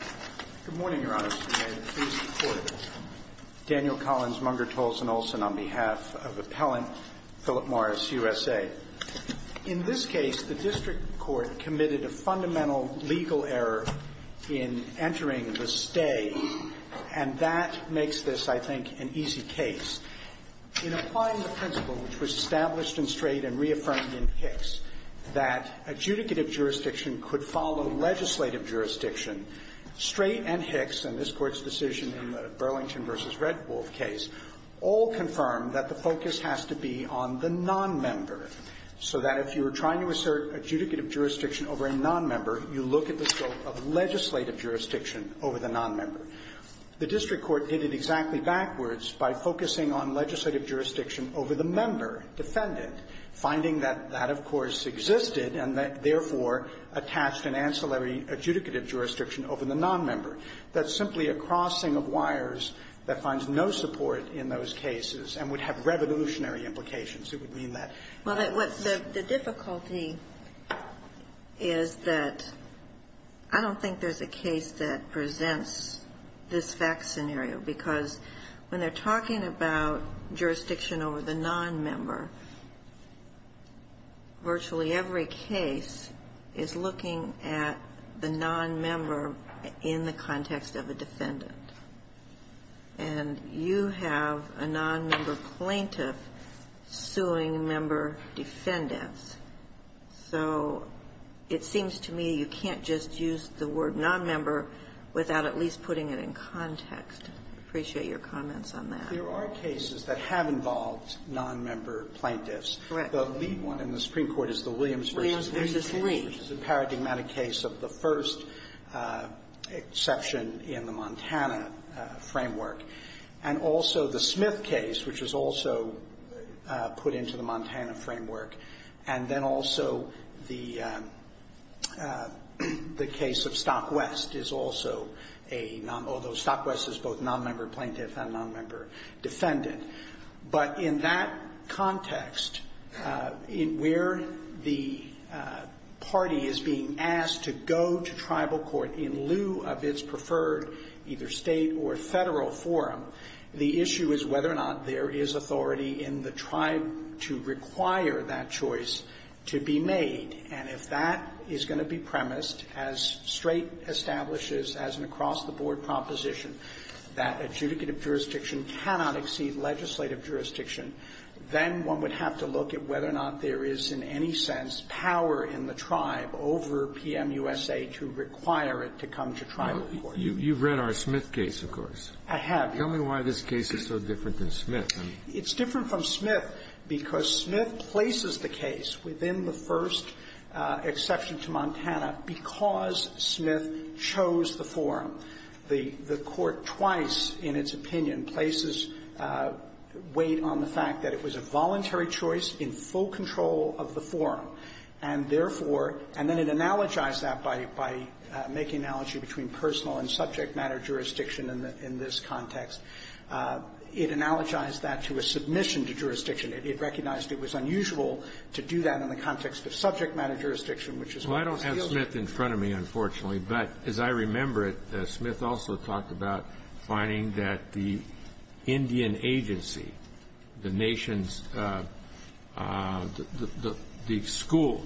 Court, Daniel Collins, Munger, Tolson, Olson, on behalf of Appellant Philip Morris, USA. In this case, the district court committed a fundamental legal error in entering the stay, and that makes this, I think, an easy case. In applying the principle which was established in Strait and reaffirmed in Hicks, that adjudicative jurisdiction could follow legislative jurisdiction, Strait and Hicks and this Court's decision in the Burlington v. Redwolf case all confirmed that the focus has to be on the nonmember, so that if you were trying to assert adjudicative jurisdiction over a nonmember, you look at the scope of legislative jurisdiction over the nonmember. The district court did it exactly backwards by focusing on legislative jurisdiction over the member, defendant, finding that that, of course, existed and that, therefore, attached an ancillary adjudicative jurisdiction over the nonmember. That's simply a crossing of wires that finds no support in those cases and would have revolutionary implications. It would mean that. Well, the difficulty is that I don't think there's a case that presents this fact scenario, because when they're talking about jurisdiction over the nonmember, virtually every case is looking at the nonmember in the context of a defendant. And you have a nonmember plaintiff suing member defendants. So it seems to me you can't just use the word nonmember without at least putting it in context. I appreciate your comments on that. There are cases that have involved nonmember plaintiffs. Correct. The lead one in the Supreme Court is the Williams v. Lee case. Williams v. Lee. Which is a paradigmatic case of the first exception in the Montana framework. And also the Smith case, which is also put into the Montana framework. And then also the case of Stockwest is also a nonmember, although Stockwest is both nonmember plaintiff and nonmember defendant. But in that context, where the party is being asked to go to tribal court in lieu of its preferred either state or federal forum, the issue is whether or not there is authority in the tribe to require that choice to be made. And if that is going to be premised, as Strait establishes as an across-the-board proposition, that adjudicative jurisdiction cannot exceed legislative jurisdiction, then one would have to look at whether or not there is in any sense power in the tribe over PMUSA to require it to come to tribal court. Well, you've read our Smith case, of course. I have. Tell me why this case is so different than Smith. It's different from Smith because Smith places the case within the first exception to Montana because Smith chose the forum. The Court twice in its opinion places weight on the fact that it was a voluntary choice in full control of the forum, and therefore – and then it analogized that by making analogy between personal and subject matter jurisdiction in this context. It analogized that to a submission to jurisdiction. It recognized it was unusual to do that in the context of subject matter jurisdiction, which is why it was sealed. Well, I don't have Smith in front of me, unfortunately. But as I remember it, Smith also talked about finding that the Indian agency, the nation's – the school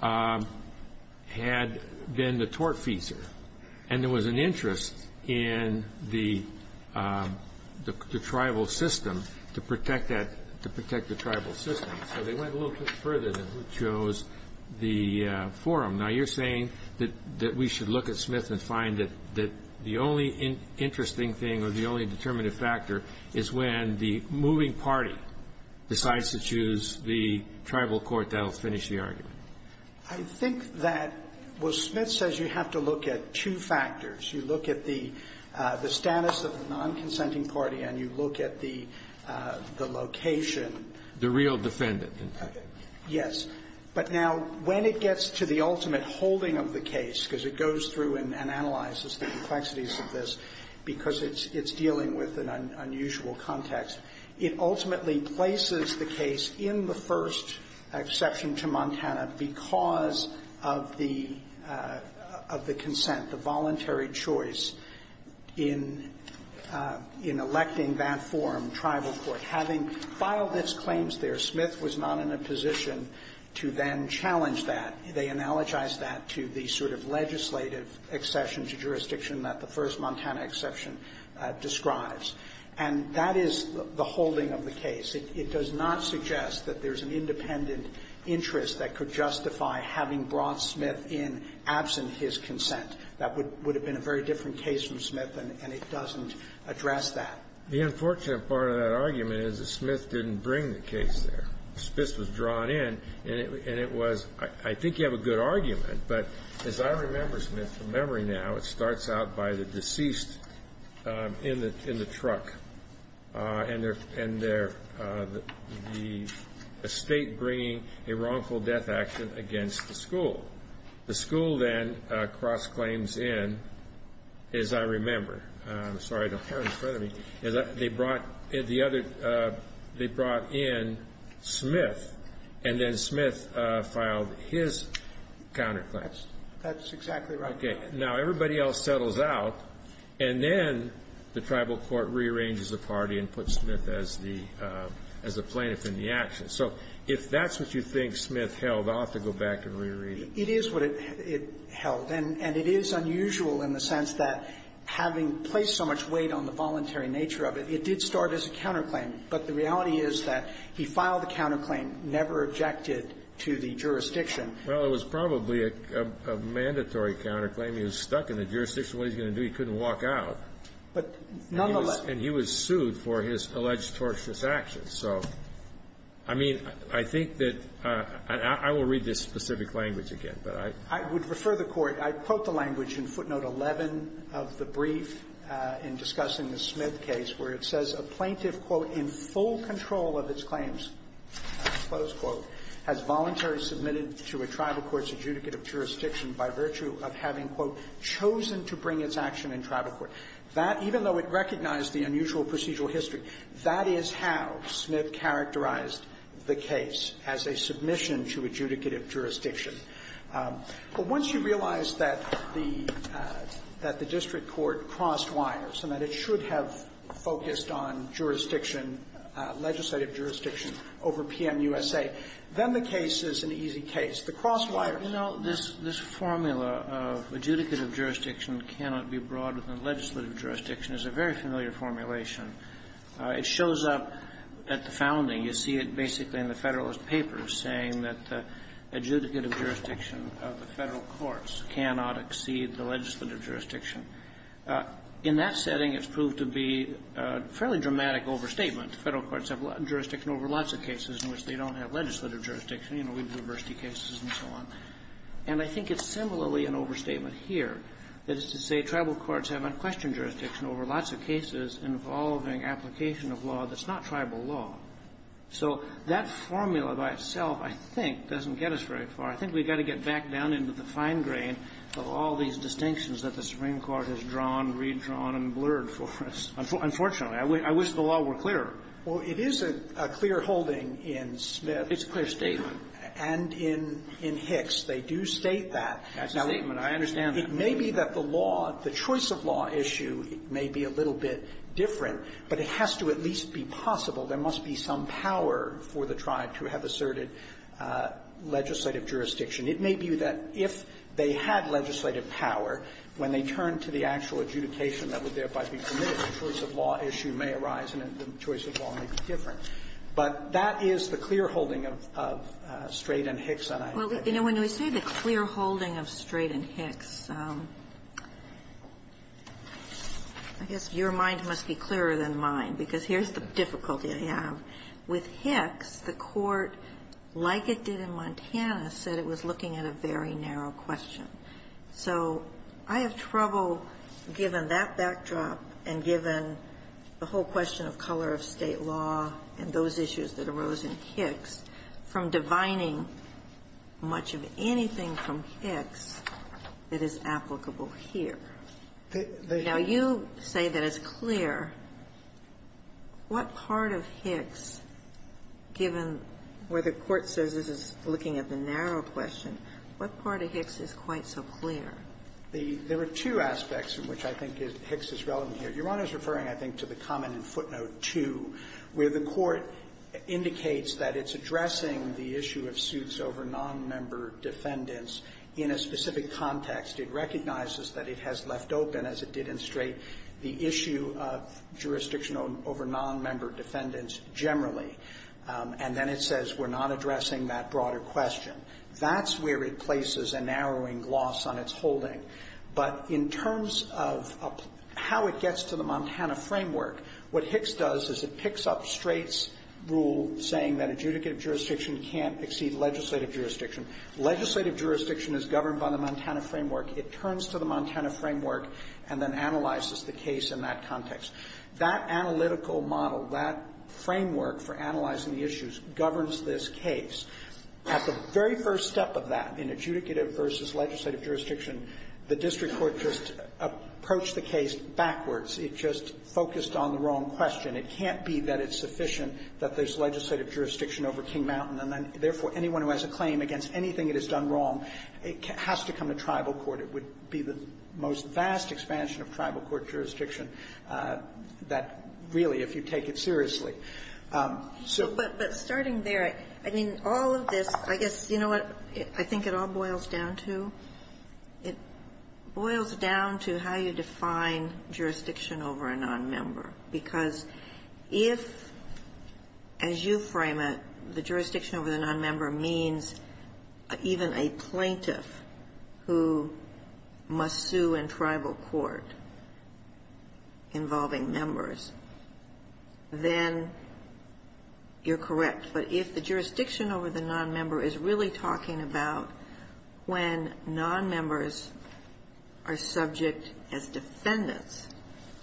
had been the tortfeasor, and there was an interest in the tribal system to protect that – to protect the tribal system. So they went a little bit further than who chose the forum. Now, you're saying that we should look at Smith and find that the only interesting thing or the only determinative factor is when the moving party decides to choose the tribal court. That'll finish the argument. I think that – well, Smith says you have to look at two factors. You look at the status of the nonconsenting party and you look at the location. The real defendant. Yes. But now, when it gets to the ultimate holding of the case, because it goes through and analyzes the complexities of this because it's dealing with an unusual context, it ultimately places the case in the first exception to Montana because of the consent, the voluntary choice in electing that forum, tribal court. Having filed its claims there, Smith was not in a position to then challenge that. They analogized that to the sort of legislative accession to jurisdiction that the first Montana exception describes. And that is the holding of the case. It does not suggest that there's an independent interest that could justify having brought Smith in absent his consent. That would have been a very different case from Smith, and it doesn't address that. The unfortunate part of that argument is that Smith didn't bring the case there. Spitz was drawn in, and it was – I think you have a good argument, but as I remember, Smith, from memory now, it starts out by the deceased in the truck, and they're the state bringing a wrongful death action against the school. The school then cross-claims in, as I remember. I'm sorry, I don't have it in front of me. They brought in Smith, and then Smith filed his counterclaims. That's exactly right. Okay. Now everybody else settles out, and then the tribal court rearranges the party and puts Smith as the plaintiff in the action. So if that's what you think Smith held, I'll have to go back and reread it. It is what it held, and it is unusual in the sense that having placed so much weight on the voluntary nature of it, it did start as a counterclaim. But the reality is that he filed the counterclaim, never objected to the jurisdiction. Well, it was probably a mandatory counterclaim. He was stuck in the jurisdiction. What was he going to do? He couldn't walk out. But nonetheless – And he was sued for his alleged torturous actions. So, I mean, I think that – I will read this specific language again, but I – I would refer the Court. I quote the language in footnote 11 of the brief in discussing the Smith case, where it says, a plaintiff, quote, in full control of its claims, close quote, has voluntarily submitted to a tribal court's adjudicate of jurisdiction by virtue of having, quote, chosen to bring its action in tribal court. That, even though it recognized the unusual procedural history, that is how Smith characterized the case, as a submission to adjudicative jurisdiction. But once you realize that the – that the district court crossed wires and that it should have focused on jurisdiction, legislative jurisdiction, over PMUSA, then the case is an easy case. The crosswire – The formula of adjudicative jurisdiction cannot be broader than legislative jurisdiction is a very familiar formulation. It shows up at the founding. You see it basically in the Federalist Papers, saying that the adjudicative jurisdiction of the Federal courts cannot exceed the legislative jurisdiction. In that setting, it's proved to be a fairly dramatic overstatement. The Federal courts have jurisdiction over lots of cases in which they don't have legislative jurisdiction. You know, we have diversity cases and so on. And I think it's similarly an overstatement here. That is to say, tribal courts have unquestioned jurisdiction over lots of cases involving application of law that's not tribal law. So that formula by itself, I think, doesn't get us very far. I think we've got to get back down into the fine grain of all these distinctions that the Supreme Court has drawn, redrawn, and blurred for us. Unfortunately. I wish the law were clearer. Well, it is a clear holding in Smith. It's a clear statement. And in Hicks, they do state that. That's a statement. I understand that. Now, it may be that the law, the choice of law issue may be a little bit different, but it has to at least be possible. There must be some power for the tribe to have asserted legislative jurisdiction. It may be that if they had legislative power, when they turned to the actual adjudication that would thereby be permitted, the choice of law issue may arise and the choice of law may be different. But that is the clear holding of Strait and Hicks. And I think that's it. Well, you know, when we say the clear holding of Strait and Hicks, I guess your mind must be clearer than mine, because here's the difficulty I have. With Hicks, the Court, like it did in Montana, said it was looking at a very narrow question. So I have trouble, given that backdrop and given the whole question of color of State law and those issues that arose in Hicks, from divining much of anything from Hicks that is applicable here. Now, you say that it's clear. What part of Hicks, given where the Court says this is looking at the narrow question, what part of Hicks is quite so clear? There are two aspects in which I think Hicks is relevant here. Your Honor is referring, I think, to the comment in footnote 2, where the Court indicates that it's addressing the issue of suits over nonmember defendants in a specific context. It recognizes that it has left open, as it did in Strait, the issue of jurisdiction over nonmember defendants generally. And then it says we're not addressing that broader question. That's where it places a narrowing loss on its holding. But in terms of how it gets to the Montana framework, what Hicks does is it picks up Strait's rule saying that adjudicative jurisdiction can't exceed legislative jurisdiction. Legislative jurisdiction is governed by the Montana framework. It turns to the Montana framework and then analyzes the case in that context. That analytical model, that framework for analyzing the issues, governs this case. At the very first step of that, in adjudicative versus legislative jurisdiction, the district court just approached the case backwards. It just focused on the wrong question. It can't be that it's sufficient that there's legislative jurisdiction over King Mountain, and then, therefore, anyone who has a claim against anything it has done wrong, it has to come to tribal court. It would be the most vast expansion of tribal court jurisdiction that really, if you take it seriously. So. But starting there, I mean, all of this, I guess, you know what I think it all boils down to? It boils down to how you define jurisdiction over a nonmember. Because if, as you frame it, the jurisdiction over the nonmember means even a plaintiff who must sue in tribal court involving members, then you're correct. But if the jurisdiction over the nonmember is really talking about when nonmembers are subject as defendants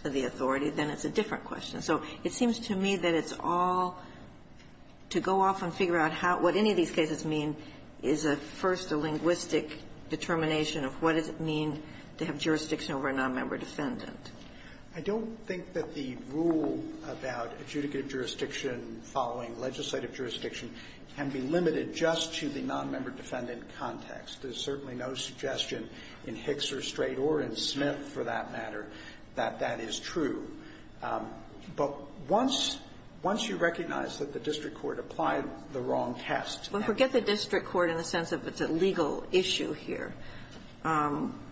of the authority, then it's a different question. So it seems to me that it's all to go off and figure out what any of these cases mean is a, first, a linguistic determination of what does it mean to have jurisdiction over a nonmember defendant. I don't think that the rule about adjudicative jurisdiction following legislative jurisdiction can be limited just to the nonmember defendant context. There's certainly no suggestion in Hicks or Strait or in Smith, for that matter, that that is true. But once you recognize that the district court applied the wrong test. Well, forget the district court in the sense of it's a legal issue here,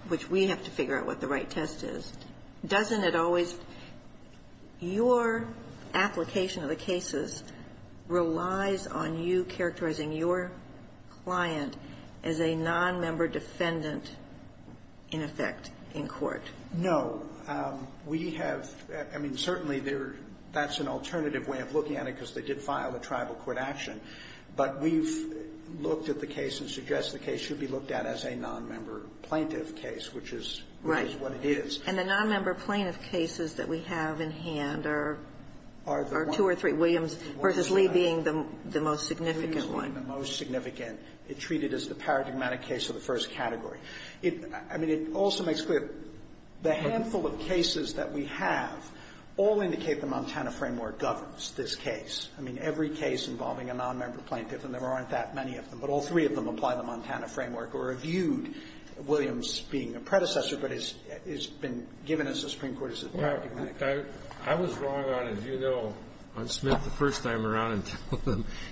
which we have to figure out what the right test is. Doesn't it always, your application of the cases relies on you characterizing your client as a nonmember defendant, in effect, in court? No. We have, I mean, certainly there, that's an alternative way of looking at it because they did file a tribal court action. But we've looked at the case and suggest the case should be looked at as a nonmember plaintiff case, which is what it is. Right. And the nonmember plaintiff cases that we have in hand are two or three. Williams versus Lee being the most significant one. Williams being the most significant. It's treated as the paradigmatic case of the first category. I mean, it also makes clear the handful of cases that we have all indicate the Montana case. I mean, every case involving a nonmember plaintiff, and there aren't that many of them, but all three of them apply the Montana framework or are viewed, Williams being a predecessor, but it's been given as the Supreme Court's paradigmatic case. I was wrong on, as you know, on Smith the first time around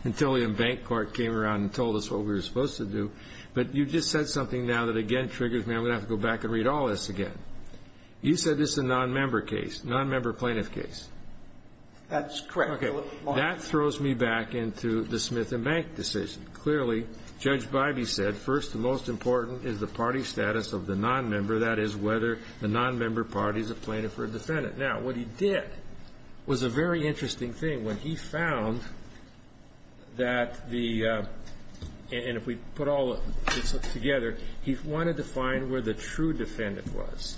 until the bank court came around and told us what we were supposed to do. But you just said something now that again triggers me. I'm going to have to go back and read all this again. You said this is a nonmember case, nonmember plaintiff case. That's correct. Okay. That throws me back into the Smith and Bank decision. Clearly, Judge Bybee said, first and most important is the party status of the nonmember, that is, whether the nonmember party is a plaintiff or a defendant. Now, what he did was a very interesting thing. When he found that the – and if we put all this together, he wanted to find where the true defendant was.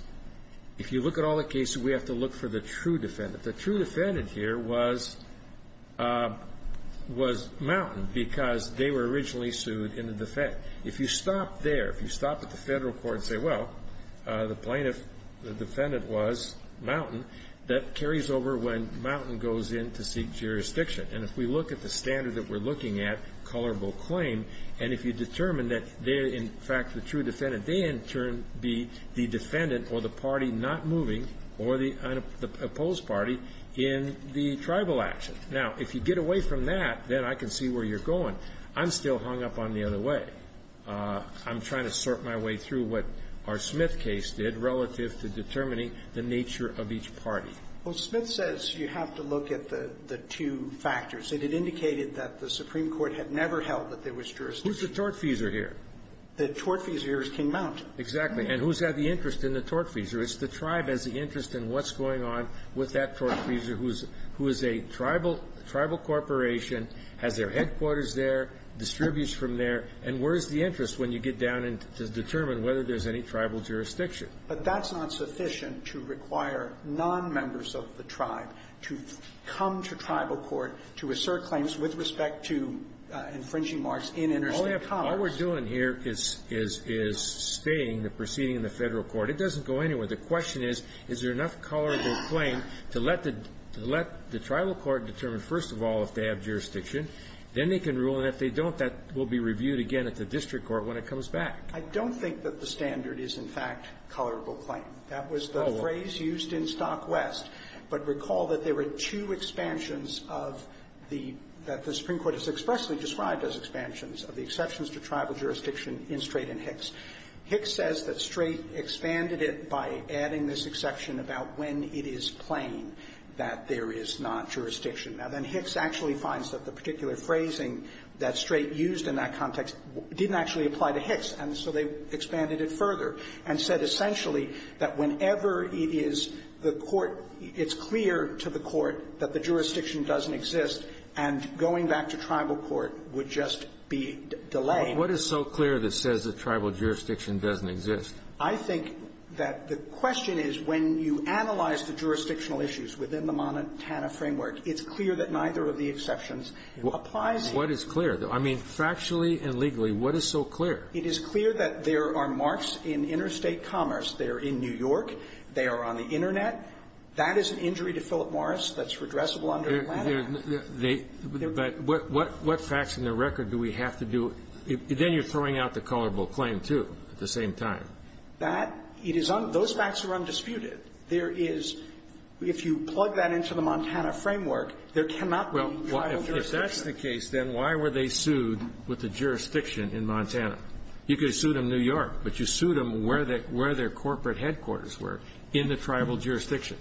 If you look at all the cases, we have to look for the true defendant. The true defendant here was Mountain because they were originally sued in the defense. If you stop there, if you stop at the federal court and say, well, the plaintiff, the defendant was Mountain, that carries over when Mountain goes in to seek jurisdiction. And if we look at the standard that we're looking at, colorable claim, and if you determine that they're in fact the true defendant, they in turn be the defendant or the party not moving or the opposed party in the tribal action. Now, if you get away from that, then I can see where you're going. I'm still hung up on the other way. I'm trying to sort my way through what our Smith case did relative to determining the nature of each party. Well, Smith says you have to look at the two factors. It had indicated that the Supreme Court had never held that there was jurisdiction. Who's the tortfeasor here? The tortfeasor here is King Mountain. Exactly. And who's got the interest in the tortfeasor? It's the tribe has the interest in what's going on with that tortfeasor, who is a tribal corporation, has their headquarters there, distributes from there. And where is the interest when you get down and determine whether there's any tribal jurisdiction? But that's not sufficient to require nonmembers of the tribe to come to tribal All we're doing here is spaying the proceeding in the Federal court. It doesn't go anywhere. The question is, is there enough colorable claim to let the tribal court determine first of all if they have jurisdiction, then they can rule, and if they don't, that will be reviewed again at the district court when it comes back. I don't think that the standard is, in fact, colorable claim. That was the phrase used in Stock West. But recall that there were two expansions of the the Supreme Court has expressly described as expansions of the exceptions to tribal jurisdiction in Strait and Hicks. Hicks says that Strait expanded it by adding this exception about when it is plain that there is not jurisdiction. Now, then Hicks actually finds that the particular phrasing that Strait used in that context didn't actually apply to Hicks, and so they expanded it further and said essentially that whenever it is the court, it's clear to the court that the jurisdiction doesn't exist, and going back to tribal court would just be delaying. But what is so clear that says that tribal jurisdiction doesn't exist? I think that the question is when you analyze the jurisdictional issues within the Montana framework, it's clear that neither of the exceptions applies. What is clear? I mean, factually and legally, what is so clear? It is clear that there are marks in interstate commerce. They are in New York. They are on the Internet. That is an injury to Philip Morris that's redressable under Atlanta. But what facts in the record do we have to do? Then you're throwing out the colorable claim, too, at the same time. That, it is, those facts are undisputed. There is, if you plug that into the Montana framework, there cannot be tribal jurisdiction. Well, if that's the case, then why were they sued with the jurisdiction in Montana? You could have sued them in New York, but you sued them where their corporate headquarters were, in the tribal jurisdiction.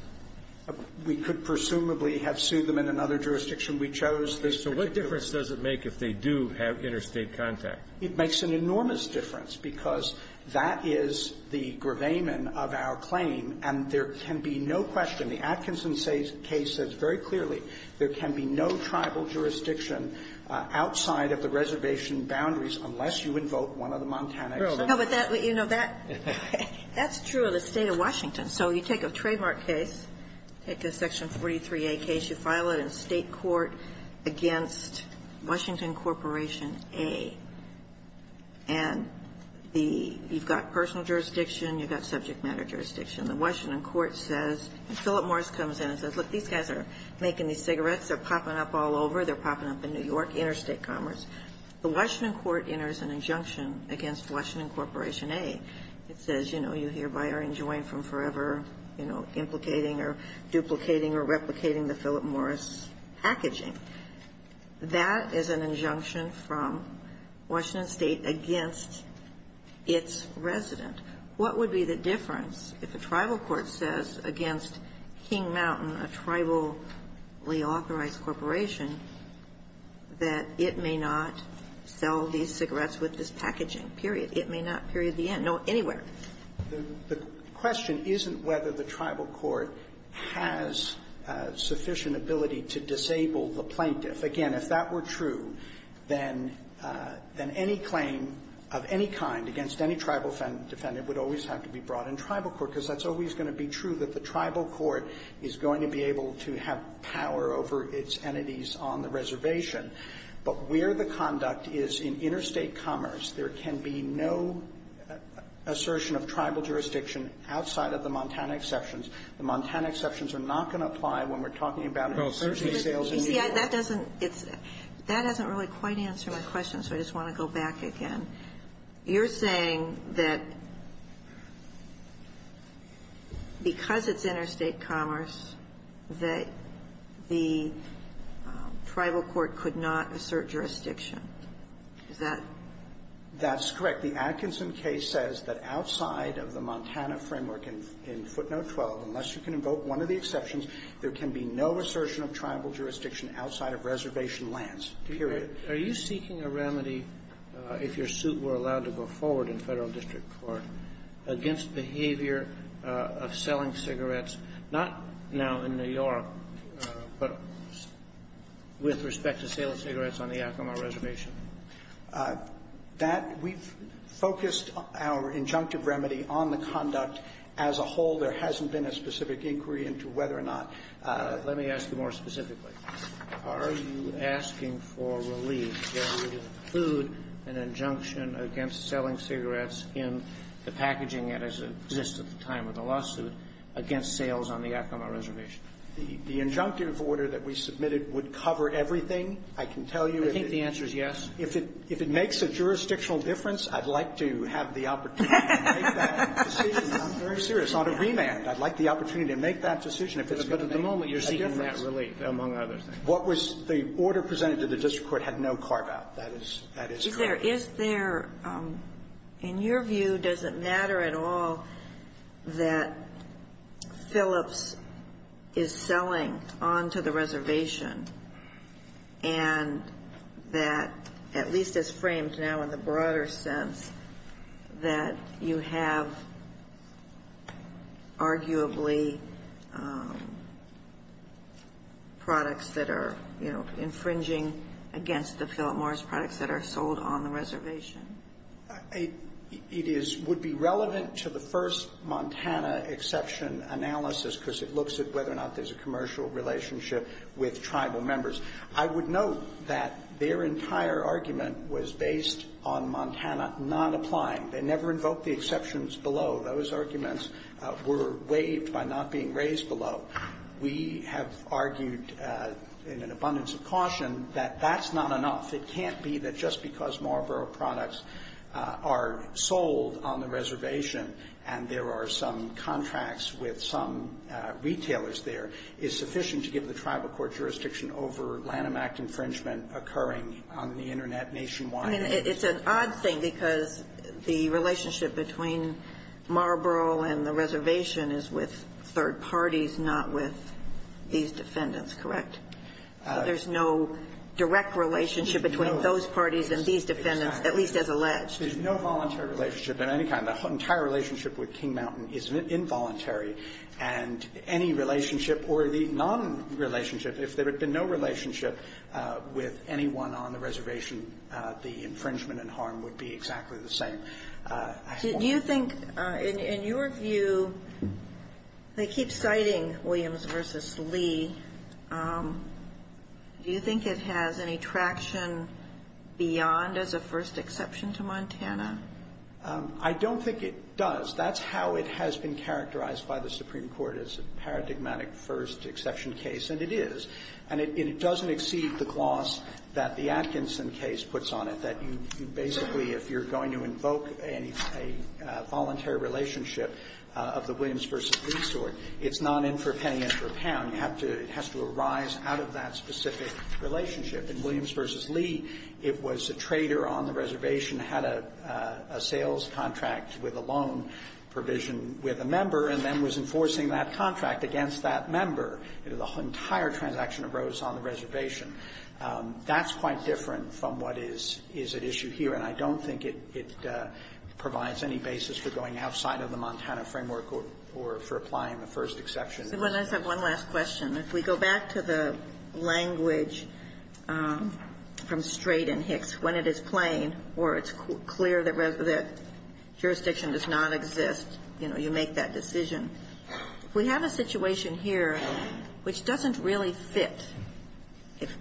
We could presumably have sued them in another jurisdiction. We chose this jurisdiction. So what difference does it make if they do have interstate contact? It makes an enormous difference, because that is the gravamen of our claim. And there can be no question, the Atkinson case says very clearly, there can be no tribal jurisdiction outside of the reservation boundaries unless you invoke one of the Montana exceptions. Sotomayor, that's true. But that, you know, that's true of the State of Washington. So you take a trademark case, take a Section 43A case, you file it in State court against Washington Corporation A. And the, you've got personal jurisdiction, you've got subject matter jurisdiction. The Washington court says, and Philip Morris comes in and says, look, these guys are making these cigarettes, they're popping up all over, they're popping up in New York, interstate commerce. The Washington court enters an injunction against Washington Corporation A. It says, you know, you hereby are enjoined from forever, you know, implicating or duplicating or replicating the Philip Morris packaging. That is an injunction from Washington State against its resident. What would be the difference if a tribal court says against King Mountain, a tribally authorized corporation, that it may not sell these cigarettes with this packaging, period, it may not, period, the end, no, anywhere? The question isn't whether the tribal court has sufficient ability to disable the plaintiff. Again, if that were true, then any claim of any kind against any tribal defendant would always have to be brought in tribal court, because that's always going to be true that the tribal court is going to be able to have power over its entities on the reservation. But where the conduct is in interstate commerce, there can be no assertion of tribal jurisdiction outside of the Montana exceptions. The Montana exceptions are not going to apply when we're talking about specialty sales in New York. Ginsburg. That doesn't really quite answer my question, so I just want to go back again. You're saying that because it's interstate commerce, that the tribal court could not assert jurisdiction. Is that? That's correct. The Atkinson case says that outside of the Montana framework in footnote 12, unless you can invoke one of the exceptions, there can be no assertion of tribal jurisdiction outside of reservation lands, period. Are you seeking a remedy, if your suit were allowed to go forward in Federal district court, against behavior of selling cigarettes, not now in New York, but with respect to sale of cigarettes on the Yakima reservation? That we've focused our injunctive remedy on the conduct as a whole. There hasn't been a specific inquiry into whether or not. Let me ask you more specifically. Are you asking for relief that would include an injunction against selling cigarettes in the packaging that exists at the time of the lawsuit against sales on the Yakima reservation? The injunctive order that we submitted would cover everything, I can tell you. I think the answer is yes. If it makes a jurisdictional difference, I'd like to have the opportunity to make that decision. I'm very serious. On a remand, I'd like the opportunity to make that decision. But at the moment, you're seeking that relief, among other things. What was the order presented to the district court had no carve-out. That is correct. Is there, in your view, does it matter at all that Phillips is selling onto the reservation and that, at least as framed now in the broader sense, that you have arguably products that are infringing against the Phillips Morris products that are sold on the reservation? It would be relevant to the first Montana exception analysis, because it looks at whether or not there's a commercial relationship with tribal members. I would note that their entire argument was based on Montana not applying. They never invoked the exceptions below. Those arguments were waived by not being raised below. We have argued in an abundance of caution that that's not enough. It can't be that just because Marlboro products are sold on the reservation and there are some contracts with some retailers there is sufficient to give the tribal court jurisdiction over Lanham Act infringement occurring on the Internet nationwide. I mean, it's an odd thing, because the relationship between Marlboro and the reservation is with third parties, not with these defendants, correct? There's no direct relationship between those parties and these defendants, at least as alleged. There's no voluntary relationship of any kind. The entire relationship with King Mountain is involuntary, and any relationship or the nonrelationship, if there had been no relationship with anyone on the reservation, the infringement and harm would be exactly the same. Do you think, in your view, they keep citing Williams v. Lee. Do you think it has any traction beyond as a first exception to Montana? I don't think it does. That's how it has been characterized by the Supreme Court as a paradigmatic first exception case, and it is. And it doesn't exceed the gloss that the Atkinson case puts on it, that you basically, if you're going to invoke a voluntary relationship of the Williams v. Lee sort, it's not in for a penny and for a pound. It has to arise out of that specific relationship. In Williams v. Lee, it was a trader on the reservation had a sales contract with a loan provision with a member and then was enforcing that contract against that member. The entire transaction arose on the reservation. That's quite different from what is at issue here, and I don't think it provides any basis for going outside of the Montana framework or for applying the first Sotomayor, I just have one last question. If we go back to the language from Strait and Hicks, when it is plain or it's clear that jurisdiction does not exist, you know, you make that decision. We have a situation here which doesn't really fit,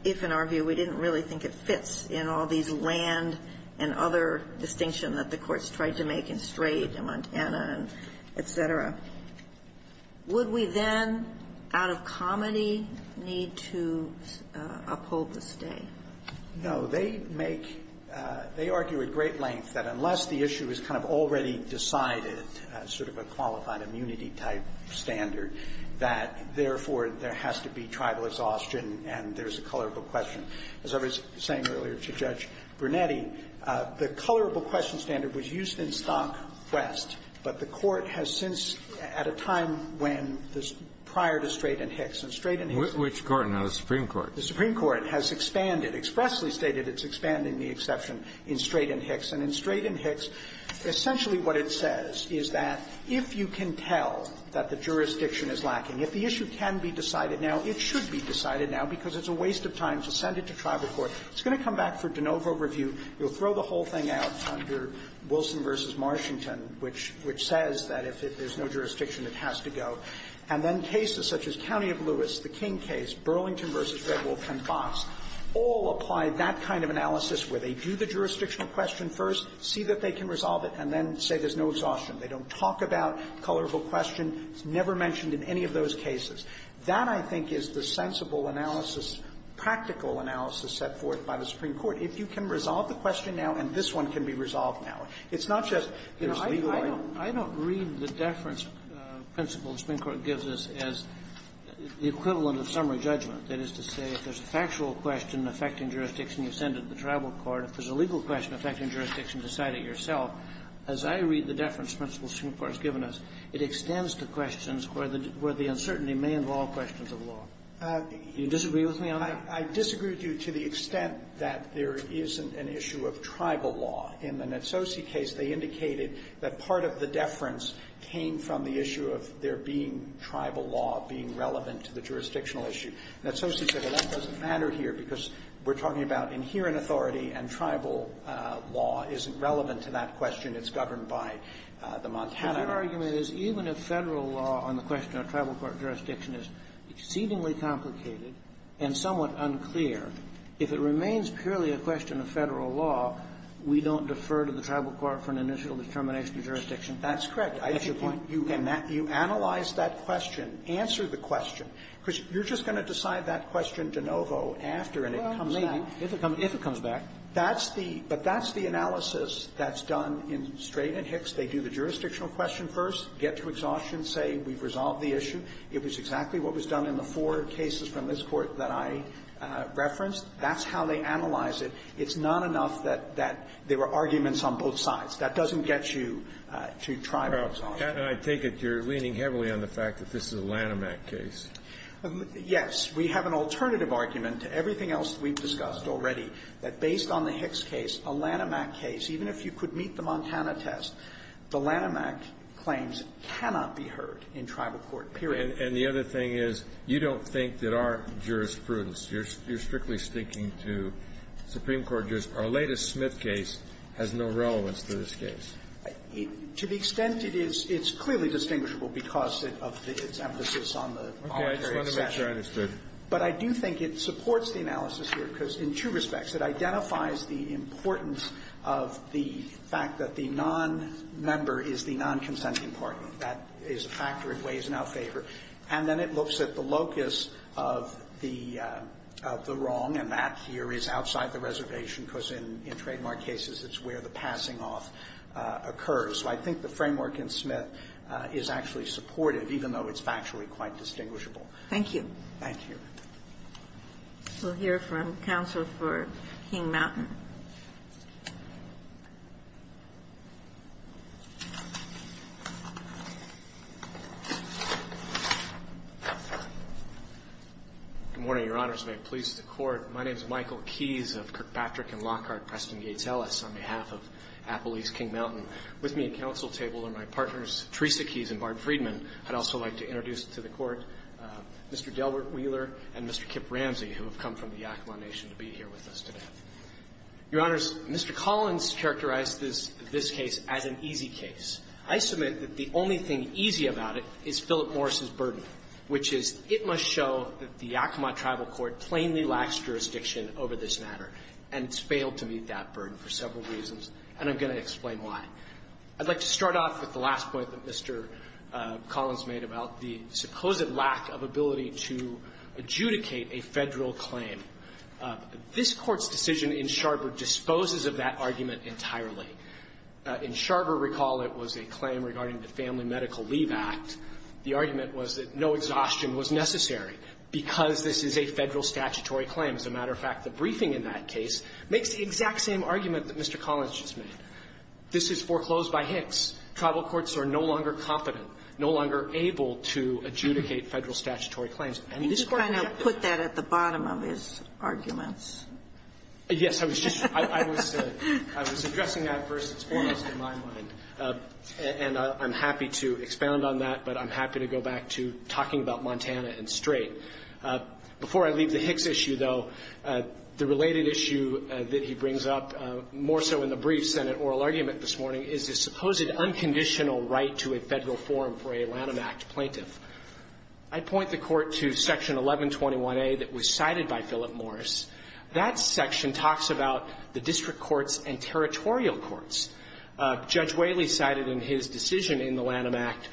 if in our view we didn't really think it fits in all these land and other distinction that the courts tried to make in Strait and Montana and et cetera. Would we then, out of comedy, need to uphold the stay? No. They make they argue at great length that unless the issue is kind of already decided, sort of a qualified immunity type standard, that therefore there has to be Now, as I was saying earlier to Judge Brunetti, the colorable question standard was used in Stock West, but the Court has since, at a time when, prior to Strait and Hicks, in Strait and Hicks the Supreme Court has expanded, expressly stated it's expanding the exception in Strait and Hicks. And in Strait and Hicks, essentially what it says is that if you can tell that the jurisdiction is lacking, if the issue can be decided now, it should be decided now, because it's a waste of time to send it to tribal court. It's going to come back for de novo review. You'll throw the whole thing out under Wilson v. Marchington, which says that if there's no jurisdiction, it has to go. And then cases such as County of Lewis, the King case, Burlington v. Redwolf and Fox all apply that kind of analysis where they do the jurisdictional question first, see that they can resolve it, and then say there's no exhaustion. They don't talk about colorable question. It's never mentioned in any of those cases. That, I think, is the sensible analysis, practical analysis set forth by the Supreme Court, if you can resolve the question now and this one can be resolved now. It's not just there's legal argument. Kennedy, I don't read the deference principle the Supreme Court gives us as the equivalent of summary judgment, that is to say if there's a factual question affecting jurisdiction, you send it to the tribal court. If there's a legal question affecting jurisdiction, decide it yourself. As I read the deference principle the Supreme Court has given us, it extends to questions where the uncertainty may involve questions of law. Do you disagree with me on that? I disagree with you to the extent that there isn't an issue of tribal law. In the Natsosi case, they indicated that part of the deference came from the issue of there being tribal law being relevant to the jurisdictional issue. Natsosi said, well, that doesn't matter here because we're talking about inherent authority and tribal law isn't relevant to that question. It's governed by the Montana Act. Kennedy, your argument is even if Federal law on the question of tribal court jurisdiction is exceedingly complicated and somewhat unclear, if it remains purely a question of Federal law, we don't defer to the tribal court for an initial determination of jurisdiction? That's correct. That's your point. You analyze that question. Answer the question. Because you're just going to decide that question de novo after and it comes back. Well, maybe, if it comes back. That's the analysis that's done in Strait and Hicks. They do the jurisdictional question first, get to exhaustion, say we've resolved the issue. It was exactly what was done in the four cases from this Court that I referenced. That's how they analyze it. It's not enough that there were arguments on both sides. That doesn't get you to tribal. I take it you're leaning heavily on the fact that this is a Lanham Act case. Yes. We have an alternative argument to everything else that we've discussed already, that based on the Hicks case, a Lanham Act case, even if you could meet the Montana test, the Lanham Act claims cannot be heard in tribal court, period. And the other thing is, you don't think that our jurisprudence, you're strictly sticking to Supreme Court jurisprudence. Our latest Smith case has no relevance to this case. To the extent it is, it's clearly distinguishable because of its emphasis on the voluntary But I do think it supports the analysis here, because in two respects, it identifies the importance of the fact that the nonmember is the nonconsenting party. That is a factor it weighs in our favor. And then it looks at the locus of the wrong, and that here is outside the reservation, because in trademark cases, it's where the passing-off occurs. So I think the framework in Smith is actually supportive, even though it's factually quite distinguishable. Thank you. Thank you. We'll hear from counsel for King-Mountain. Good morning, Your Honors. May it please the Court. My name is Michael Keyes of Kirkpatrick & Lockhart, Preston Gates Ellis, on behalf of Appalachia King-Mountain. With me at counsel table are my partners, Teresa Keyes and Barb Friedman. I'd also like to introduce to the Court Mr. Delbert Wheeler and Mr. Kip Ramsey, who have come from the Yakama Nation to be here with us today. Your Honors, Mr. Collins characterized this case as an easy case. I submit that the only thing easy about it is Philip Morris's burden, which is it must show that the Yakama tribal court plainly lacks jurisdiction over this matter, and it's failed to meet that burden for several reasons, and I'm going to explain I'd like to start off with the last point that Mr. Collins made about the supposed lack of ability to adjudicate a Federal claim. This Court's decision in Sharper disposes of that argument entirely. In Sharper, recall, it was a claim regarding the Family Medical Leave Act. The argument was that no exhaustion was necessary because this is a Federal statutory claim. As a matter of fact, the briefing in that case makes the exact same argument that Mr. Collins just made. This is foreclosed by Hicks. Tribal courts are no longer confident, no longer able to adjudicate Federal statutory claims. I mean, this Court has to be able to do that. You kind of put that at the bottom of his arguments. Yes. I was just – I was addressing that first and foremost in my mind. And I'm happy to expound on that, but I'm happy to go back to talking about Montana and Strait. Before I leave the Hicks issue, though, the related issue that he brings up more so in the brief Senate oral argument this morning is the supposed unconditional right to a Federal forum for a Lanham Act plaintiff. I point the Court to Section 1121a that was cited by Philip Morris. That section talks about the district courts and territorial courts. Judge Whaley cited in his decision in the Lanham Act,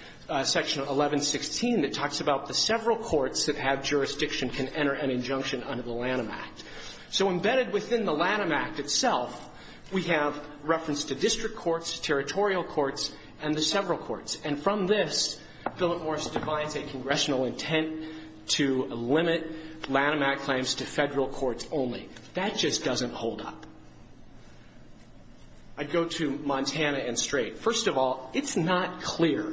Section 1116, that talks about the several courts that have jurisdiction can enter an injunction under the Lanham Act. So embedded within the Lanham Act itself, we have reference to district courts, territorial courts, and the several courts. And from this, Philip Morris defines a congressional intent to limit Lanham Act claims to Federal courts only. That just doesn't hold up. I'd go to Montana and Strait. First of all, it's not clear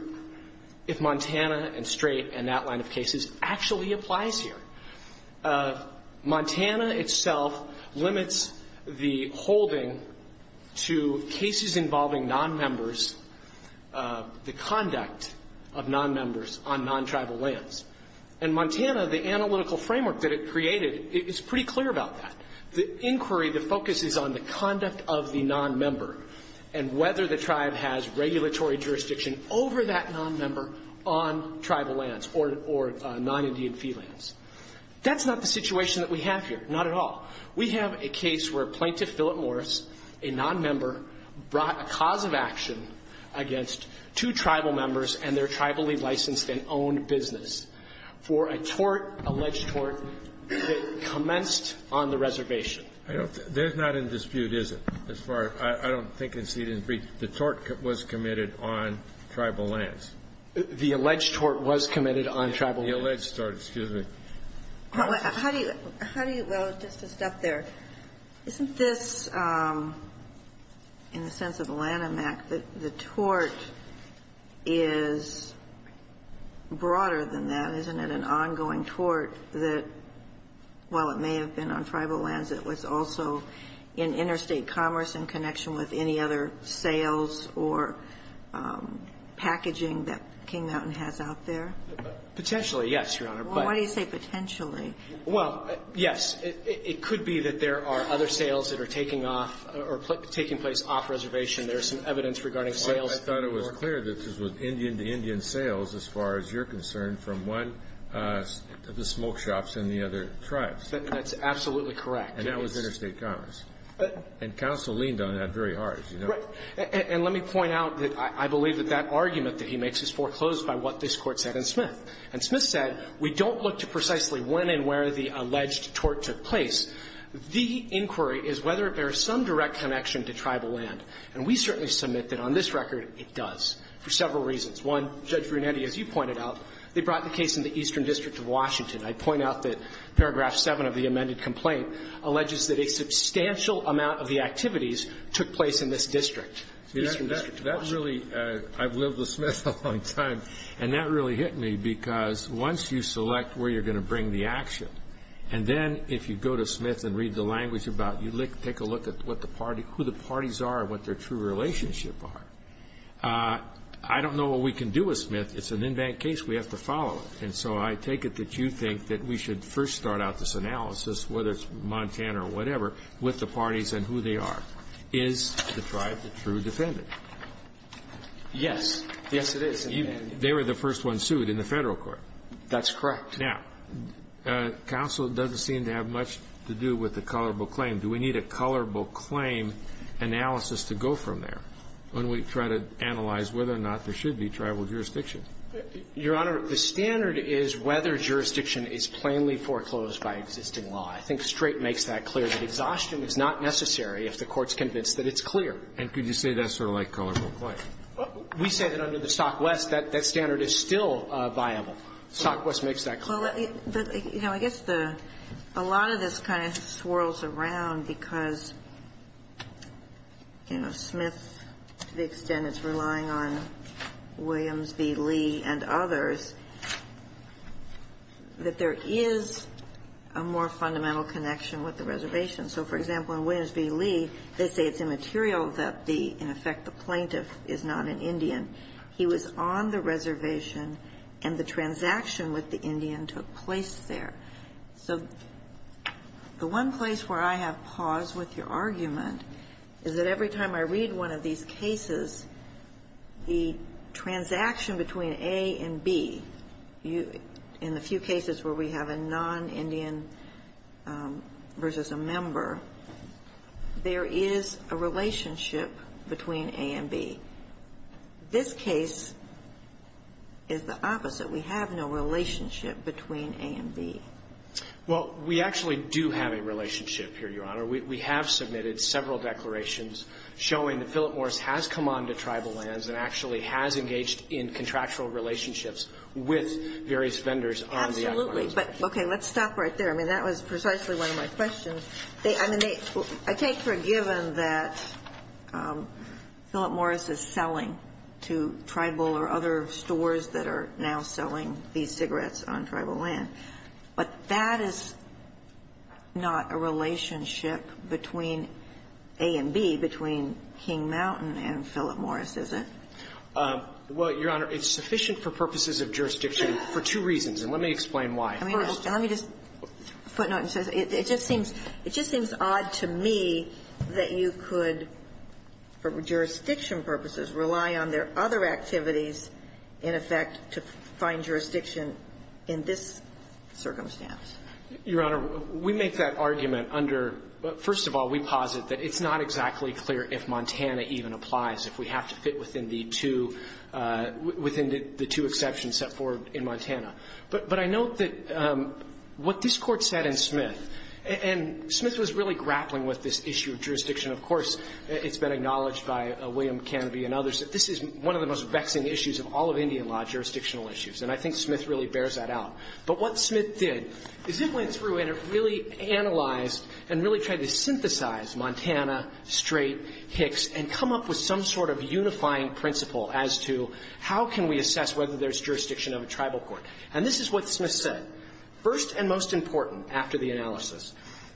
if Montana and Strait and that line of cases actually applies here. Montana itself limits the holding to cases involving nonmembers, the conduct of nonmembers on non-tribal lands. In Montana, the analytical framework that it created, it's pretty clear about that. The inquiry, the focus is on the conduct of the nonmember and whether the tribe has regulatory jurisdiction over that nonmember on tribal lands or non-Indian fee lands. That's not the situation that we have here, not at all. We have a case where Plaintiff Philip Morris, a nonmember, brought a cause of action against two tribal members and their tribally licensed and owned business for a tort, alleged tort, that commenced on the reservation. There's not a dispute, is there, as far as I don't think it's needed to be. The tort was committed on tribal lands. The alleged tort was committed on tribal lands. The alleged tort, excuse me. How do you – well, just to stop there, isn't this, in the sense of Lanham Act, that the tort is broader than that? Isn't it an ongoing tort that, while it may have been committed on tribal lands, it was also in interstate commerce in connection with any other sales or packaging that King Mountain has out there? Potentially, yes, Your Honor. Well, why do you say potentially? Well, yes. It could be that there are other sales that are taking off or taking place off reservation. There's some evidence regarding sales. I thought it was clear that this was Indian-to-Indian sales, as far as you're concerned, from one of the smoke shops in the other tribes. That's absolutely correct. And that was interstate commerce. And counsel leaned on that very hard, as you know. Right. And let me point out that I believe that that argument that he makes is foreclosed by what this Court said in Smith. And Smith said, we don't look to precisely when and where the alleged tort took place. The inquiry is whether there is some direct connection to tribal land. And we certainly submit that on this record, it does, for several reasons. One, Judge Brunetti, as you pointed out, they brought the case in the Eastern District of Washington. I point out that paragraph 7 of the amended complaint alleges that a substantial amount of the activities took place in this district, Eastern District of Washington. That really – I've lived with Smith a long time. And that really hit me, because once you select where you're going to bring the action, and then if you go to Smith and read the language about it, you take a look at what the party – who the parties are and what their true relationship are. I don't know what we can do with Smith. It's an in-bank case. We have to follow it. And so I take it that you think that we should first start out this analysis, whether it's Montana or whatever, with the parties and who they are. Is the tribe the true defendant? Yes. Yes, it is. They were the first ones sued in the Federal Court. That's correct. Now, counsel doesn't seem to have much to do with the colorable claim. Do we need a colorable claim analysis to go from there when we try to analyze whether or not there should be tribal jurisdiction? Your Honor, the standard is whether jurisdiction is plainly foreclosed by existing law. I think Strait makes that clear, that exhaustion is not necessary if the Court's convinced that it's clear. And could you say that's sort of like colorable claim? We say that under the Stockwest, that standard is still viable. Stockwest makes that clear. Well, you know, I guess a lot of this kind of swirls around because, you know, Smith, to the extent it's relying on Williams v. Lee and others, that there is a more fundamental connection with the reservation. So, for example, in Williams v. Lee, they say it's immaterial that the, in effect, the plaintiff is not an Indian. He was on the reservation and the transaction with the Indian took place there. So the one place where I have pause with your argument is that every time I read one of these cases, the transaction between A and B, in the few cases where we have a non-Indian versus a member, there is a relationship between A and B. This case is the opposite. We have no relationship between A and B. Well, we actually do have a relationship here, Your Honor. We have submitted several declarations showing that Philip Morris has come on to tribal lands and actually has engaged in contractual relationships with various vendors on the outlying reservation. Absolutely. But, okay, let's stop right there. I mean, that was precisely one of my questions. They, I mean, I take for a given that Philip Morris is selling to tribal or other stores that are now selling these cigarettes on tribal land. But that is not a relationship between A and B, between King Mountain and Philip Morris, is it? Well, Your Honor, it's sufficient for purposes of jurisdiction for two reasons, and let me explain why. First, let me just footnote and say it just seems odd to me that you could, for jurisdiction purposes, rely on their other activities, in effect, to find jurisdiction in this circumstance. Your Honor, we make that argument under, first of all, we posit that it's not exactly clear if Montana even applies, if we have to fit within the two, within the two exceptions set forth in Montana. But I note that what this Court said in Smith, and Smith was really grappling with this issue of jurisdiction. Of course, it's been acknowledged by William Canobie and others that this is one of the most vexing issues of all of Indian law, jurisdictional issues, and I think Smith really bears that out. But what Smith did is he went through and really analyzed and really tried to synthesize Montana, Strait, Hicks, and come up with some sort of unifying principle as to how can we assess whether there's jurisdiction of a tribal court. And this is what Smith said. First and most important, after the analysis,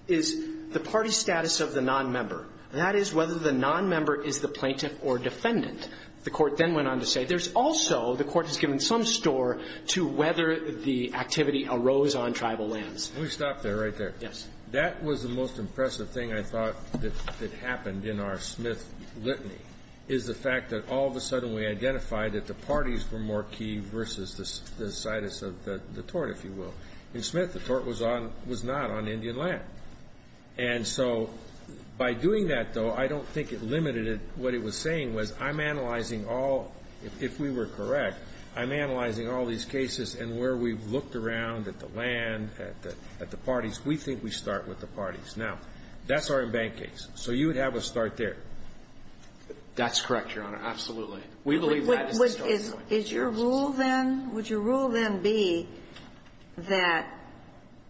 is the party status of the nonmember. That is, whether the nonmember is the plaintiff or defendant. The Court then went on to say there's also, the Court has given some store to whether the activity arose on tribal lands. Kennedy. We'll stop there, right there. Yes. That was the most impressive thing I thought that happened in our Smith litany, is the fact that all of a sudden we identified that the parties were more key versus the status of the tort, if you will. In Smith, the tort was not on Indian land. And so by doing that, though, I don't think it limited it. What it was saying was, I'm analyzing all, if we were correct, I'm analyzing all these cases and where we've looked around at the land, at the parties. We think we start with the parties. Now, that's our embankment case. So you would have a start there. That's correct, Your Honor. Absolutely. We believe that is the start point. Is your rule then, would your rule then be that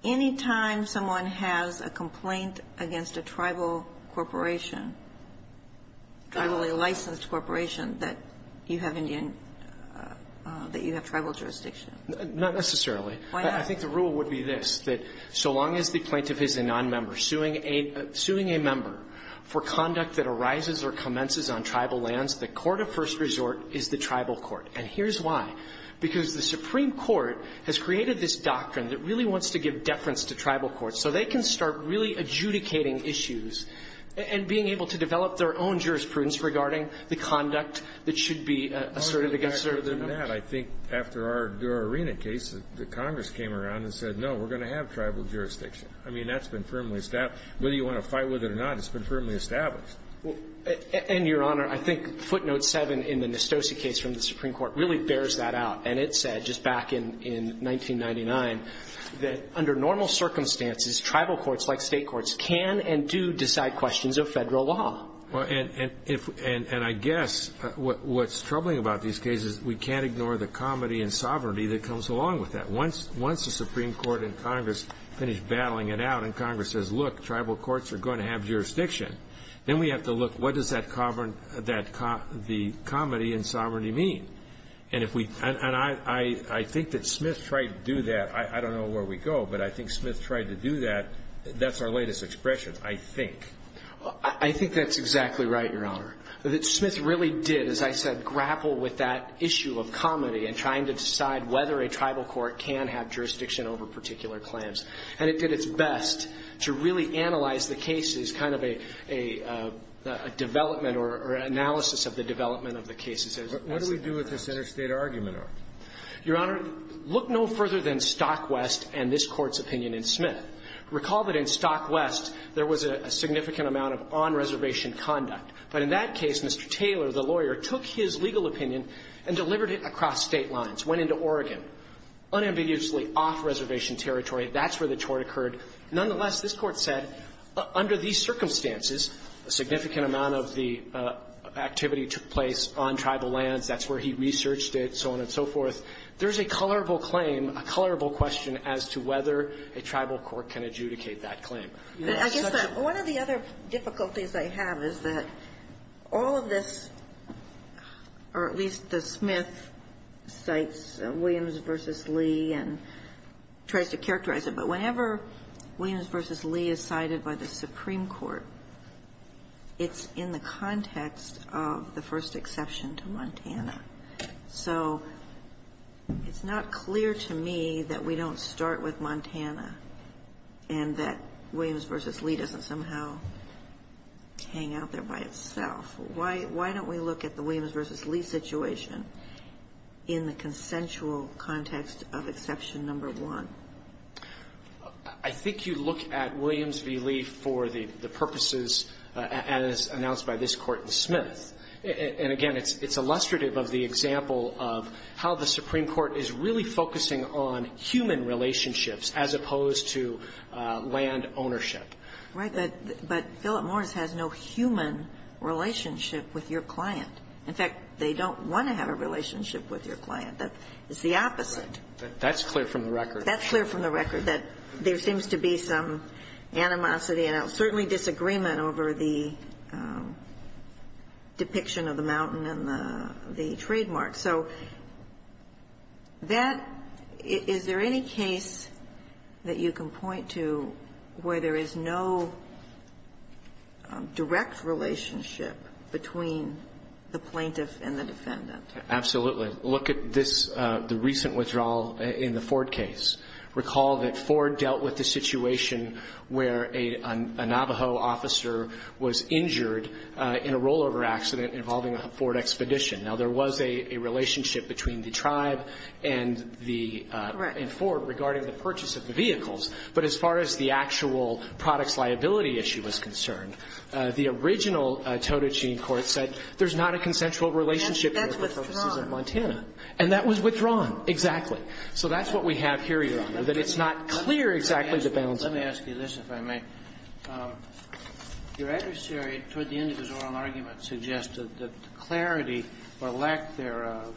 any time someone has a complaint against a tribal corporation, tribally licensed corporation, that you have Indian that you have tribal jurisdiction? Not necessarily. Why not? I think the rule would be this, that so long as the plaintiff is a nonmember, suing a member for conduct that arises or commences on tribal lands, the court of first resort is the tribal court. And here's why. Because the Supreme Court has created this doctrine that really wants to give deference to tribal courts so they can start really adjudicating issues and being able to develop their own jurisprudence regarding the conduct that should be asserted against their members. I think after our Dura-Arena case, the Congress came around and said, no, we're going to have tribal jurisdiction. I mean, that's been firmly established. Whether you want to fight with it or not, it's been firmly established. And, Your Honor, I think footnote seven in the Nostosia case from the Supreme Court really bears that out. And it said, just back in 1999, that under normal circumstances, tribal courts, like state courts, can and do decide questions of federal law. Well, and I guess what's troubling about these cases, we can't ignore the comedy and sovereignty that comes along with that. Once the Supreme Court and Congress finish battling it out, and Congress says, look, tribal courts are going to have jurisdiction, then we have to look, what does that comedy and sovereignty mean? And I think that Smith tried to do that. I don't know where we go, but I think Smith tried to do that. That's our latest expression, I think. I think that's exactly right, Your Honor. That Smith really did, as I said, grapple with that issue of comedy and trying to have jurisdiction over particular claims. And it did its best to really analyze the cases, kind of a development or analysis of the development of the cases. But what do we do with this interstate argument, though? Your Honor, look no further than Stockwest and this Court's opinion in Smith. Recall that in Stockwest, there was a significant amount of on-reservation conduct. But in that case, Mr. Taylor, the lawyer, took his legal opinion and delivered it across state lines, went into Oregon. Unambiguously off-reservation territory, that's where the tort occurred. Nonetheless, this Court said, under these circumstances, a significant amount of the activity took place on tribal lands. That's where he researched it, so on and so forth. There's a colorable claim, a colorable question as to whether a tribal court can adjudicate that claim. And that's such a ---- I guess that one of the other difficulties I have is that all of this, or at least the Smith cites Williams v. Lee and tries to characterize it. But whenever Williams v. Lee is cited by the Supreme Court, it's in the context of the first exception to Montana. So it's not clear to me that we don't start with Montana and that Williams v. Lee doesn't somehow hang out there by itself. Why don't we look at the Williams v. Lee situation in the consensual context of exception number one? I think you look at Williams v. Lee for the purposes as announced by this Court in Smith. And again, it's illustrative of the example of how the Supreme Court is really focusing on human relationships as opposed to land ownership. Right. But Philip Morris has no human relationship with your client. In fact, they don't want to have a relationship with your client. That is the opposite. That's clear from the record. That's clear from the record, that there seems to be some animosity and certainly disagreement over the depiction of the mountain and the trademark. So that – is there any case that you can point to where there is no direct relationship between the plaintiff and the defendant? Absolutely. Look at this, the recent withdrawal in the Ford case. Recall that Ford dealt with the situation where a Navajo officer was injured in a rollover accident involving a Ford Expedition. Now, there was a relationship between the tribe and the – and Ford regarding the purchase of the vehicles. But as far as the actual products liability issue was concerned, the original Totochine court said there's not a consensual relationship there for purposes of Montana. And that was withdrawn. Exactly. So that's what we have here, Your Honor, that it's not clear exactly the balance of power. Let me ask you this, if I may. Your adversary, toward the end of his oral argument, suggested that the clarity or lack thereof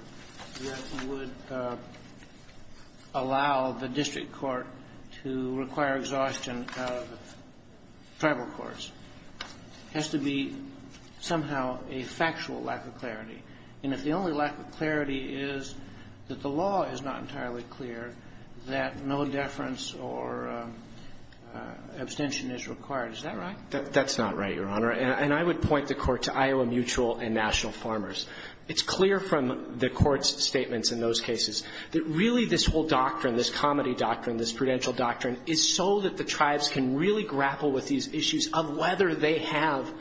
that would allow the district court to require exhaustion of tribal courts has to be somehow a factual lack of clarity. And if the only lack of clarity is that the law is not entirely clear, that no deference or abstention is required, is that right? That's not right, Your Honor. And I would point the Court to Iowa Mutual and National Farmers. It's clear from the Court's statements in those cases that really this whole doctrine, this comity doctrine, this prudential doctrine, is so that the tribes can really grapple with these issues of whether they have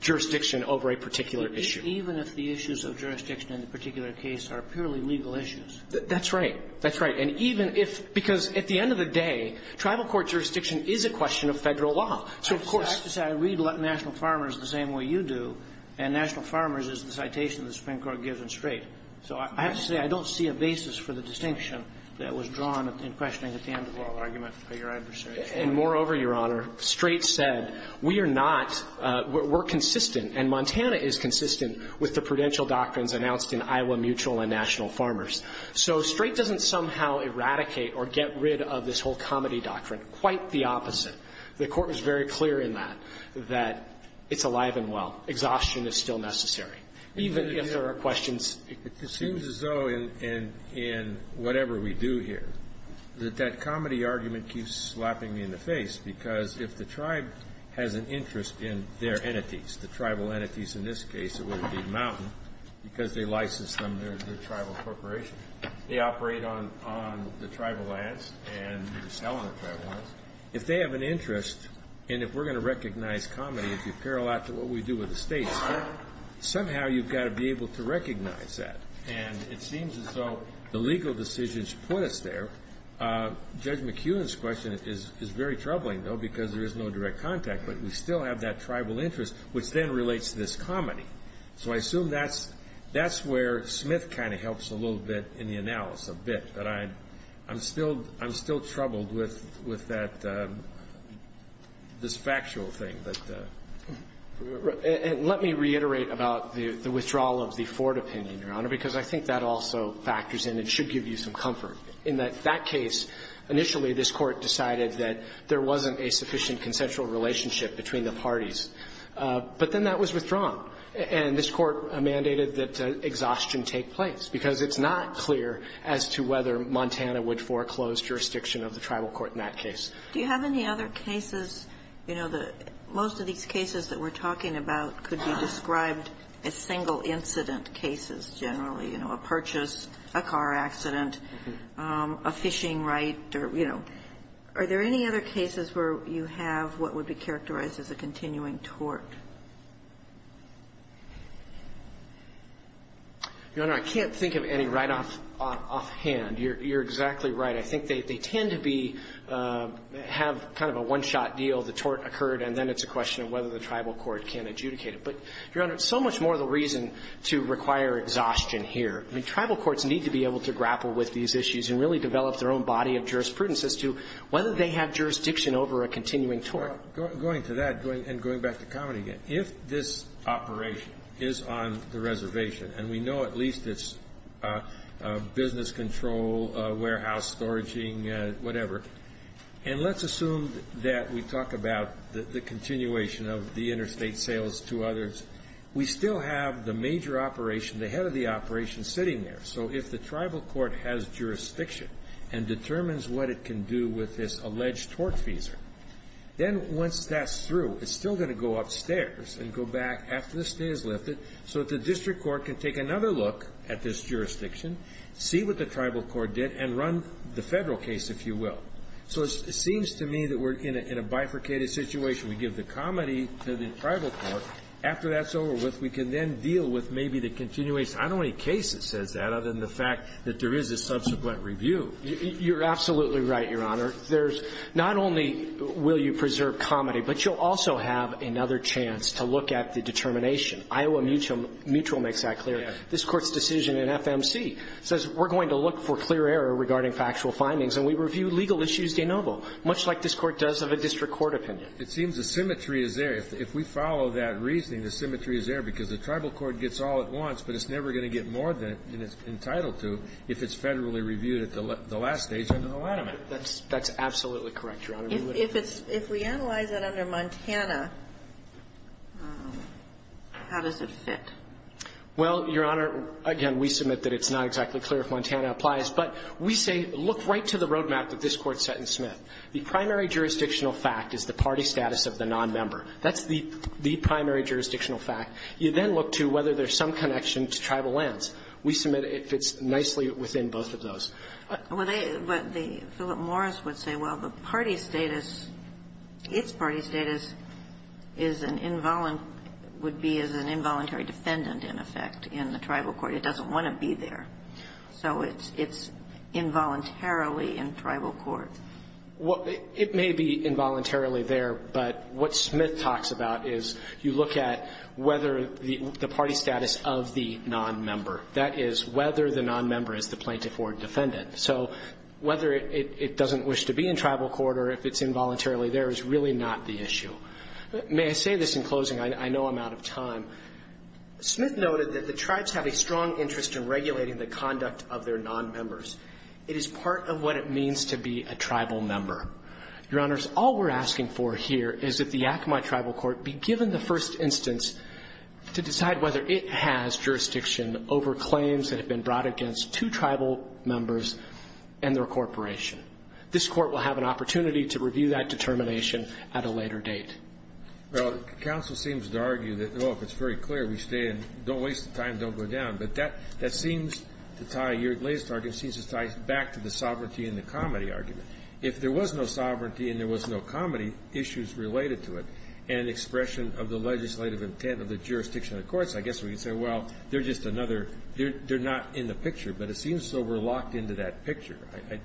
jurisdiction over a particular issue. Even if the issues of jurisdiction in the particular case are purely legal issues. That's right. That's right. And even if, because at the end of the day, tribal court jurisdiction is a question of Federal law. So, of course. I read National Farmers the same way you do, and National Farmers is the citation the Supreme Court gives in Strait. So I have to say, I don't see a basis for the distinction that was drawn in questioning at the end of the oral argument by your adversary. And moreover, Your Honor, Strait said, we are not, we're consistent, and Montana is consistent with the prudential doctrines announced in Iowa Mutual and National Farmers. So Strait doesn't somehow eradicate or get rid of this whole comity doctrine. Quite the opposite. The Court was very clear in that, that it's alive and well. Exhaustion is still necessary. Even if there are questions. It seems as though in whatever we do here, that that comity argument keeps slapping me in the face, because if the tribe has an interest in their entities, the tribal entities in this case, it would be Mountain, because they license them, they're a tribal corporation. They operate on the tribal lands, and they're selling the tribal lands. If they have an interest, and if we're going to recognize comity, if you parallel that to what we do with the states, somehow you've got to be able to recognize that. And it seems as though the legal decisions put us there. Judge McEwen's question is very troubling, though, because there is no direct contact. But we still have that tribal interest, which then relates to this comity. So I assume that's where Smith kind of helps a little bit in the analysis, a bit. But I'm still troubled with that, this factual thing. And let me reiterate about the withdrawal of the Ford opinion, Your Honor, because I think that also factors in and should give you some comfort. In that case, initially this Court decided that there wasn't a sufficient consensual relationship between the parties. But then that was withdrawn. And this Court mandated that exhaustion take place, because it's not clear as to whether Montana would foreclose jurisdiction of the tribal court in that case. Do you have any other cases? You know, most of these cases that we're talking about could be described as single incident cases generally, you know, a purchase, a car accident, a phishing right, or, you know. Are there any other cases where you have what would be characterized as a continuing tort? Your Honor, I can't think of any right offhand. You're exactly right. I think they tend to be, have kind of a one-shot deal. The tort occurred, and then it's a question of whether the tribal court can adjudicate it. But, Your Honor, it's so much more the reason to require exhaustion here. I mean, tribal courts need to be able to grapple with these issues and really develop their own body of jurisprudence as to whether they have jurisdiction over a continuing tort. Going to that, and going back to comedy again, if this operation is on the reservation, and we know at least it's business control, warehouse storaging, whatever, and let's assume that we talk about the continuation of the interstate sales to others, we still have the major operation, the head of the operation, sitting there. So if the tribal court has jurisdiction and determines what it can do with this alleged tort fees, then once that's through, it's still going to go upstairs and go back after this day is lifted so that the district court can take another look at this jurisdiction, see what the tribal court did, and run the federal case, if you will. So it seems to me that we're in a bifurcated situation. We give the comedy to the tribal court. After that's over with, we can then deal with maybe the continuation. I don't know any case that says that, other than the fact that there is a subsequent review. You're absolutely right, Your Honor. There's not only will you preserve comedy, but you'll also have another chance to look at the determination. Iowa Mutual makes that clear. This Court's decision in FMC says we're going to look for clear error regarding factual findings, and we review legal issues de novo, much like this Court does of a district court opinion. It seems the symmetry is there. If we follow that reasoning, the symmetry is there, because the tribal court gets all it wants, but it's never going to get more than it's entitled to if it's federally reviewed at the last stage under the Lanham Act. That's absolutely correct, Your Honor. If we analyze that under Montana, how does it fit? Well, Your Honor, again, we submit that it's not exactly clear if Montana applies, but we say look right to the roadmap that this Court set in Smith. The primary jurisdictional fact is the party status of the nonmember. That's the primary jurisdictional fact. You then look to whether there's some connection to tribal lands. We submit it fits nicely within both of those. But the Philip Morris would say, well, the party status, its party status is an involuntary defendant, in effect, in the tribal court. It doesn't want to be there, so it's involuntarily in tribal court. Well, it may be involuntarily there, but what Smith talks about is you look at whether the party status of the nonmember, that is, whether the nonmember is the plaintiff or the defendant. So whether it doesn't wish to be in tribal court or if it's involuntarily there is really not the issue. May I say this in closing? I know I'm out of time. Smith noted that the tribes have a strong interest in regulating the conduct of their nonmembers. It is part of what it means to be a tribal member. Your Honors, all we're asking for here is that the Yakima Tribal Court be given the first instance to decide whether it has jurisdiction over claims that have been brought against two tribal members and their corporation. This Court will have an opportunity to review that determination at a later date. Well, counsel seems to argue that, oh, if it's very clear, we stay and don't waste the time, don't go down. But that seems to tie your latest argument seems to tie back to the sovereignty and the comity argument. If there was no sovereignty and there was no comity, issues related to it and expression of the legislative intent of the jurisdiction of the courts, I guess we can say, well, they're just another they're not in the picture. But it seems so we're locked into that picture.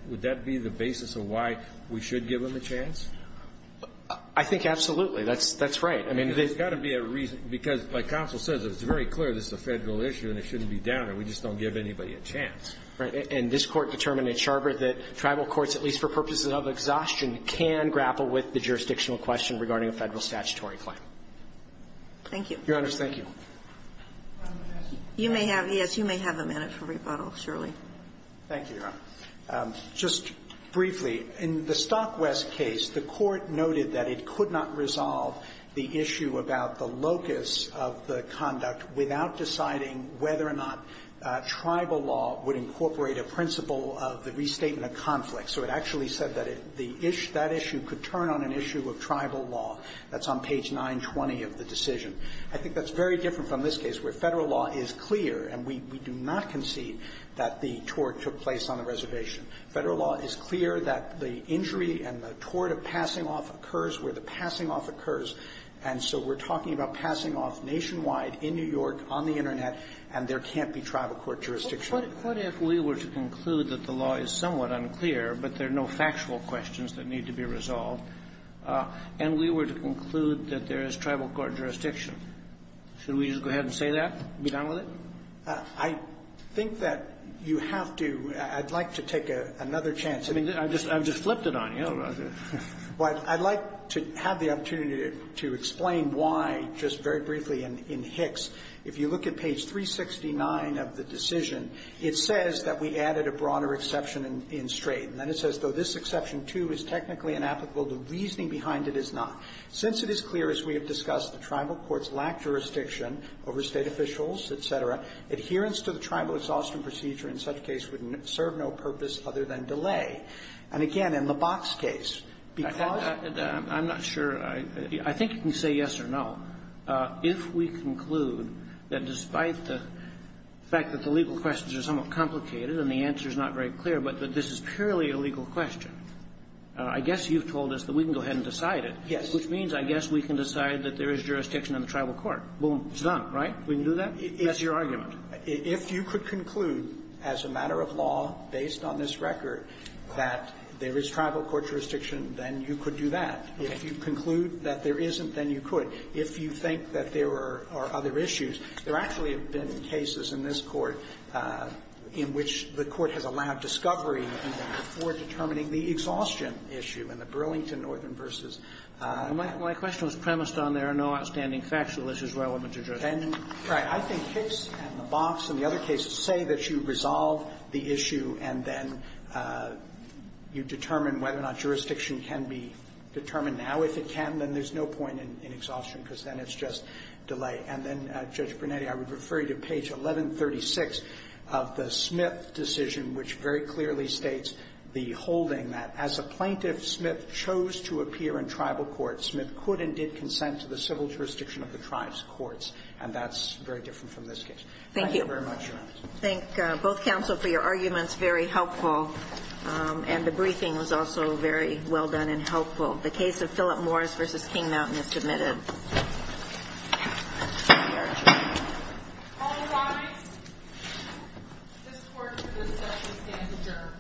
Would that be the basis of why we should give them a chance? I think absolutely. That's right. I mean, there's got to be a reason. Because, like counsel says, if it's very clear this is a Federal issue and it shouldn't be downed, we just don't give anybody a chance. Right. And this Court determined at Charter that tribal courts, at least for purposes of exhaustion, can grapple with the jurisdictional question regarding a Federal statutory claim. Thank you. Your Honors, thank you. You may have, yes, you may have a minute for rebuttal, Shirley. Thank you, Your Honor. Just briefly, in the Stockwest case, the Court noted that it could not resolve the issue about the locus of the conduct without deciding whether or not tribal law would incorporate a principle of the restatement of conflict. So it actually said that that issue could turn on an issue of tribal law. That's on page 920 of the decision. I think that's very different from this case, where Federal law is clear, and we do not concede that the tort took place on the reservation. Federal law is clear that the injury and the tort of passing off occurs where the passing off occurs. And so we're talking about passing off nationwide, in New York, on the Internet, and there can't be tribal court jurisdiction. What if we were to conclude that the law is somewhat unclear, but there are no factual questions that need to be resolved, and we were to conclude that there is tribal court jurisdiction? Should we just go ahead and say that and be done with it? I think that you have to – I'd like to take another chance. I mean, I've just flipped it on you. Well, I'd like to have the opportunity to explain why, just very briefly, in Hicks, if you look at page 369 of the decision, it says that we added a broader exception in Strait. And then it says, though this exception, too, is technically inapplicable, the reasoning behind it is not. Since it is clear, as we have discussed, the tribal courts lack jurisdiction over State officials, et cetera, adherence to the tribal exhaustion procedure in such case would serve no purpose other than delay. And again, in the Box case, because of the – I'm not sure. I think you can say yes or no. If we conclude that despite the fact that the legal questions are somewhat complicated and the answer is not very clear, but that this is purely a legal question, I guess you've told us that we can go ahead and decide it. Yes. Which means, I guess, we can decide that there is jurisdiction in the tribal court. Boom. It's done, right? We can do that? That's your argument. If you could conclude as a matter of law, based on this record, that there is tribal court jurisdiction, then you could do that. If you conclude that there isn't, then you could. If you think that there are other issues, there actually have been cases in this Court in which the Court has allowed discovery in that for determining the exhaustion issue, in the Burlington Northern v. My question was premised on there are no outstanding facts, so this is relevant to jurisdiction. Right. I think Hicks and the Box and the other cases say that you resolve the issue and then you determine whether or not jurisdiction can be determined. Now, if it can, then there's no point in exhaustion, because then it's just delay. And then, Judge Brunetti, I would refer you to page 1136 of the Smith decision, which very clearly states the holding that, as a plaintiff, Smith chose to appear in tribal court, Smith could and did consent to the civil jurisdiction of the tribe's courts, and that's very different from this case. Thank you very much, Your Honor. Thank you. I think both counsel, for your arguments, very helpful, and the briefing was also very well done and helpful. The case of Philip Morris v. King Mountain is submitted. All rise. This court is adjourned. The case Morris v. King Mountain is the case of King Mountain is a case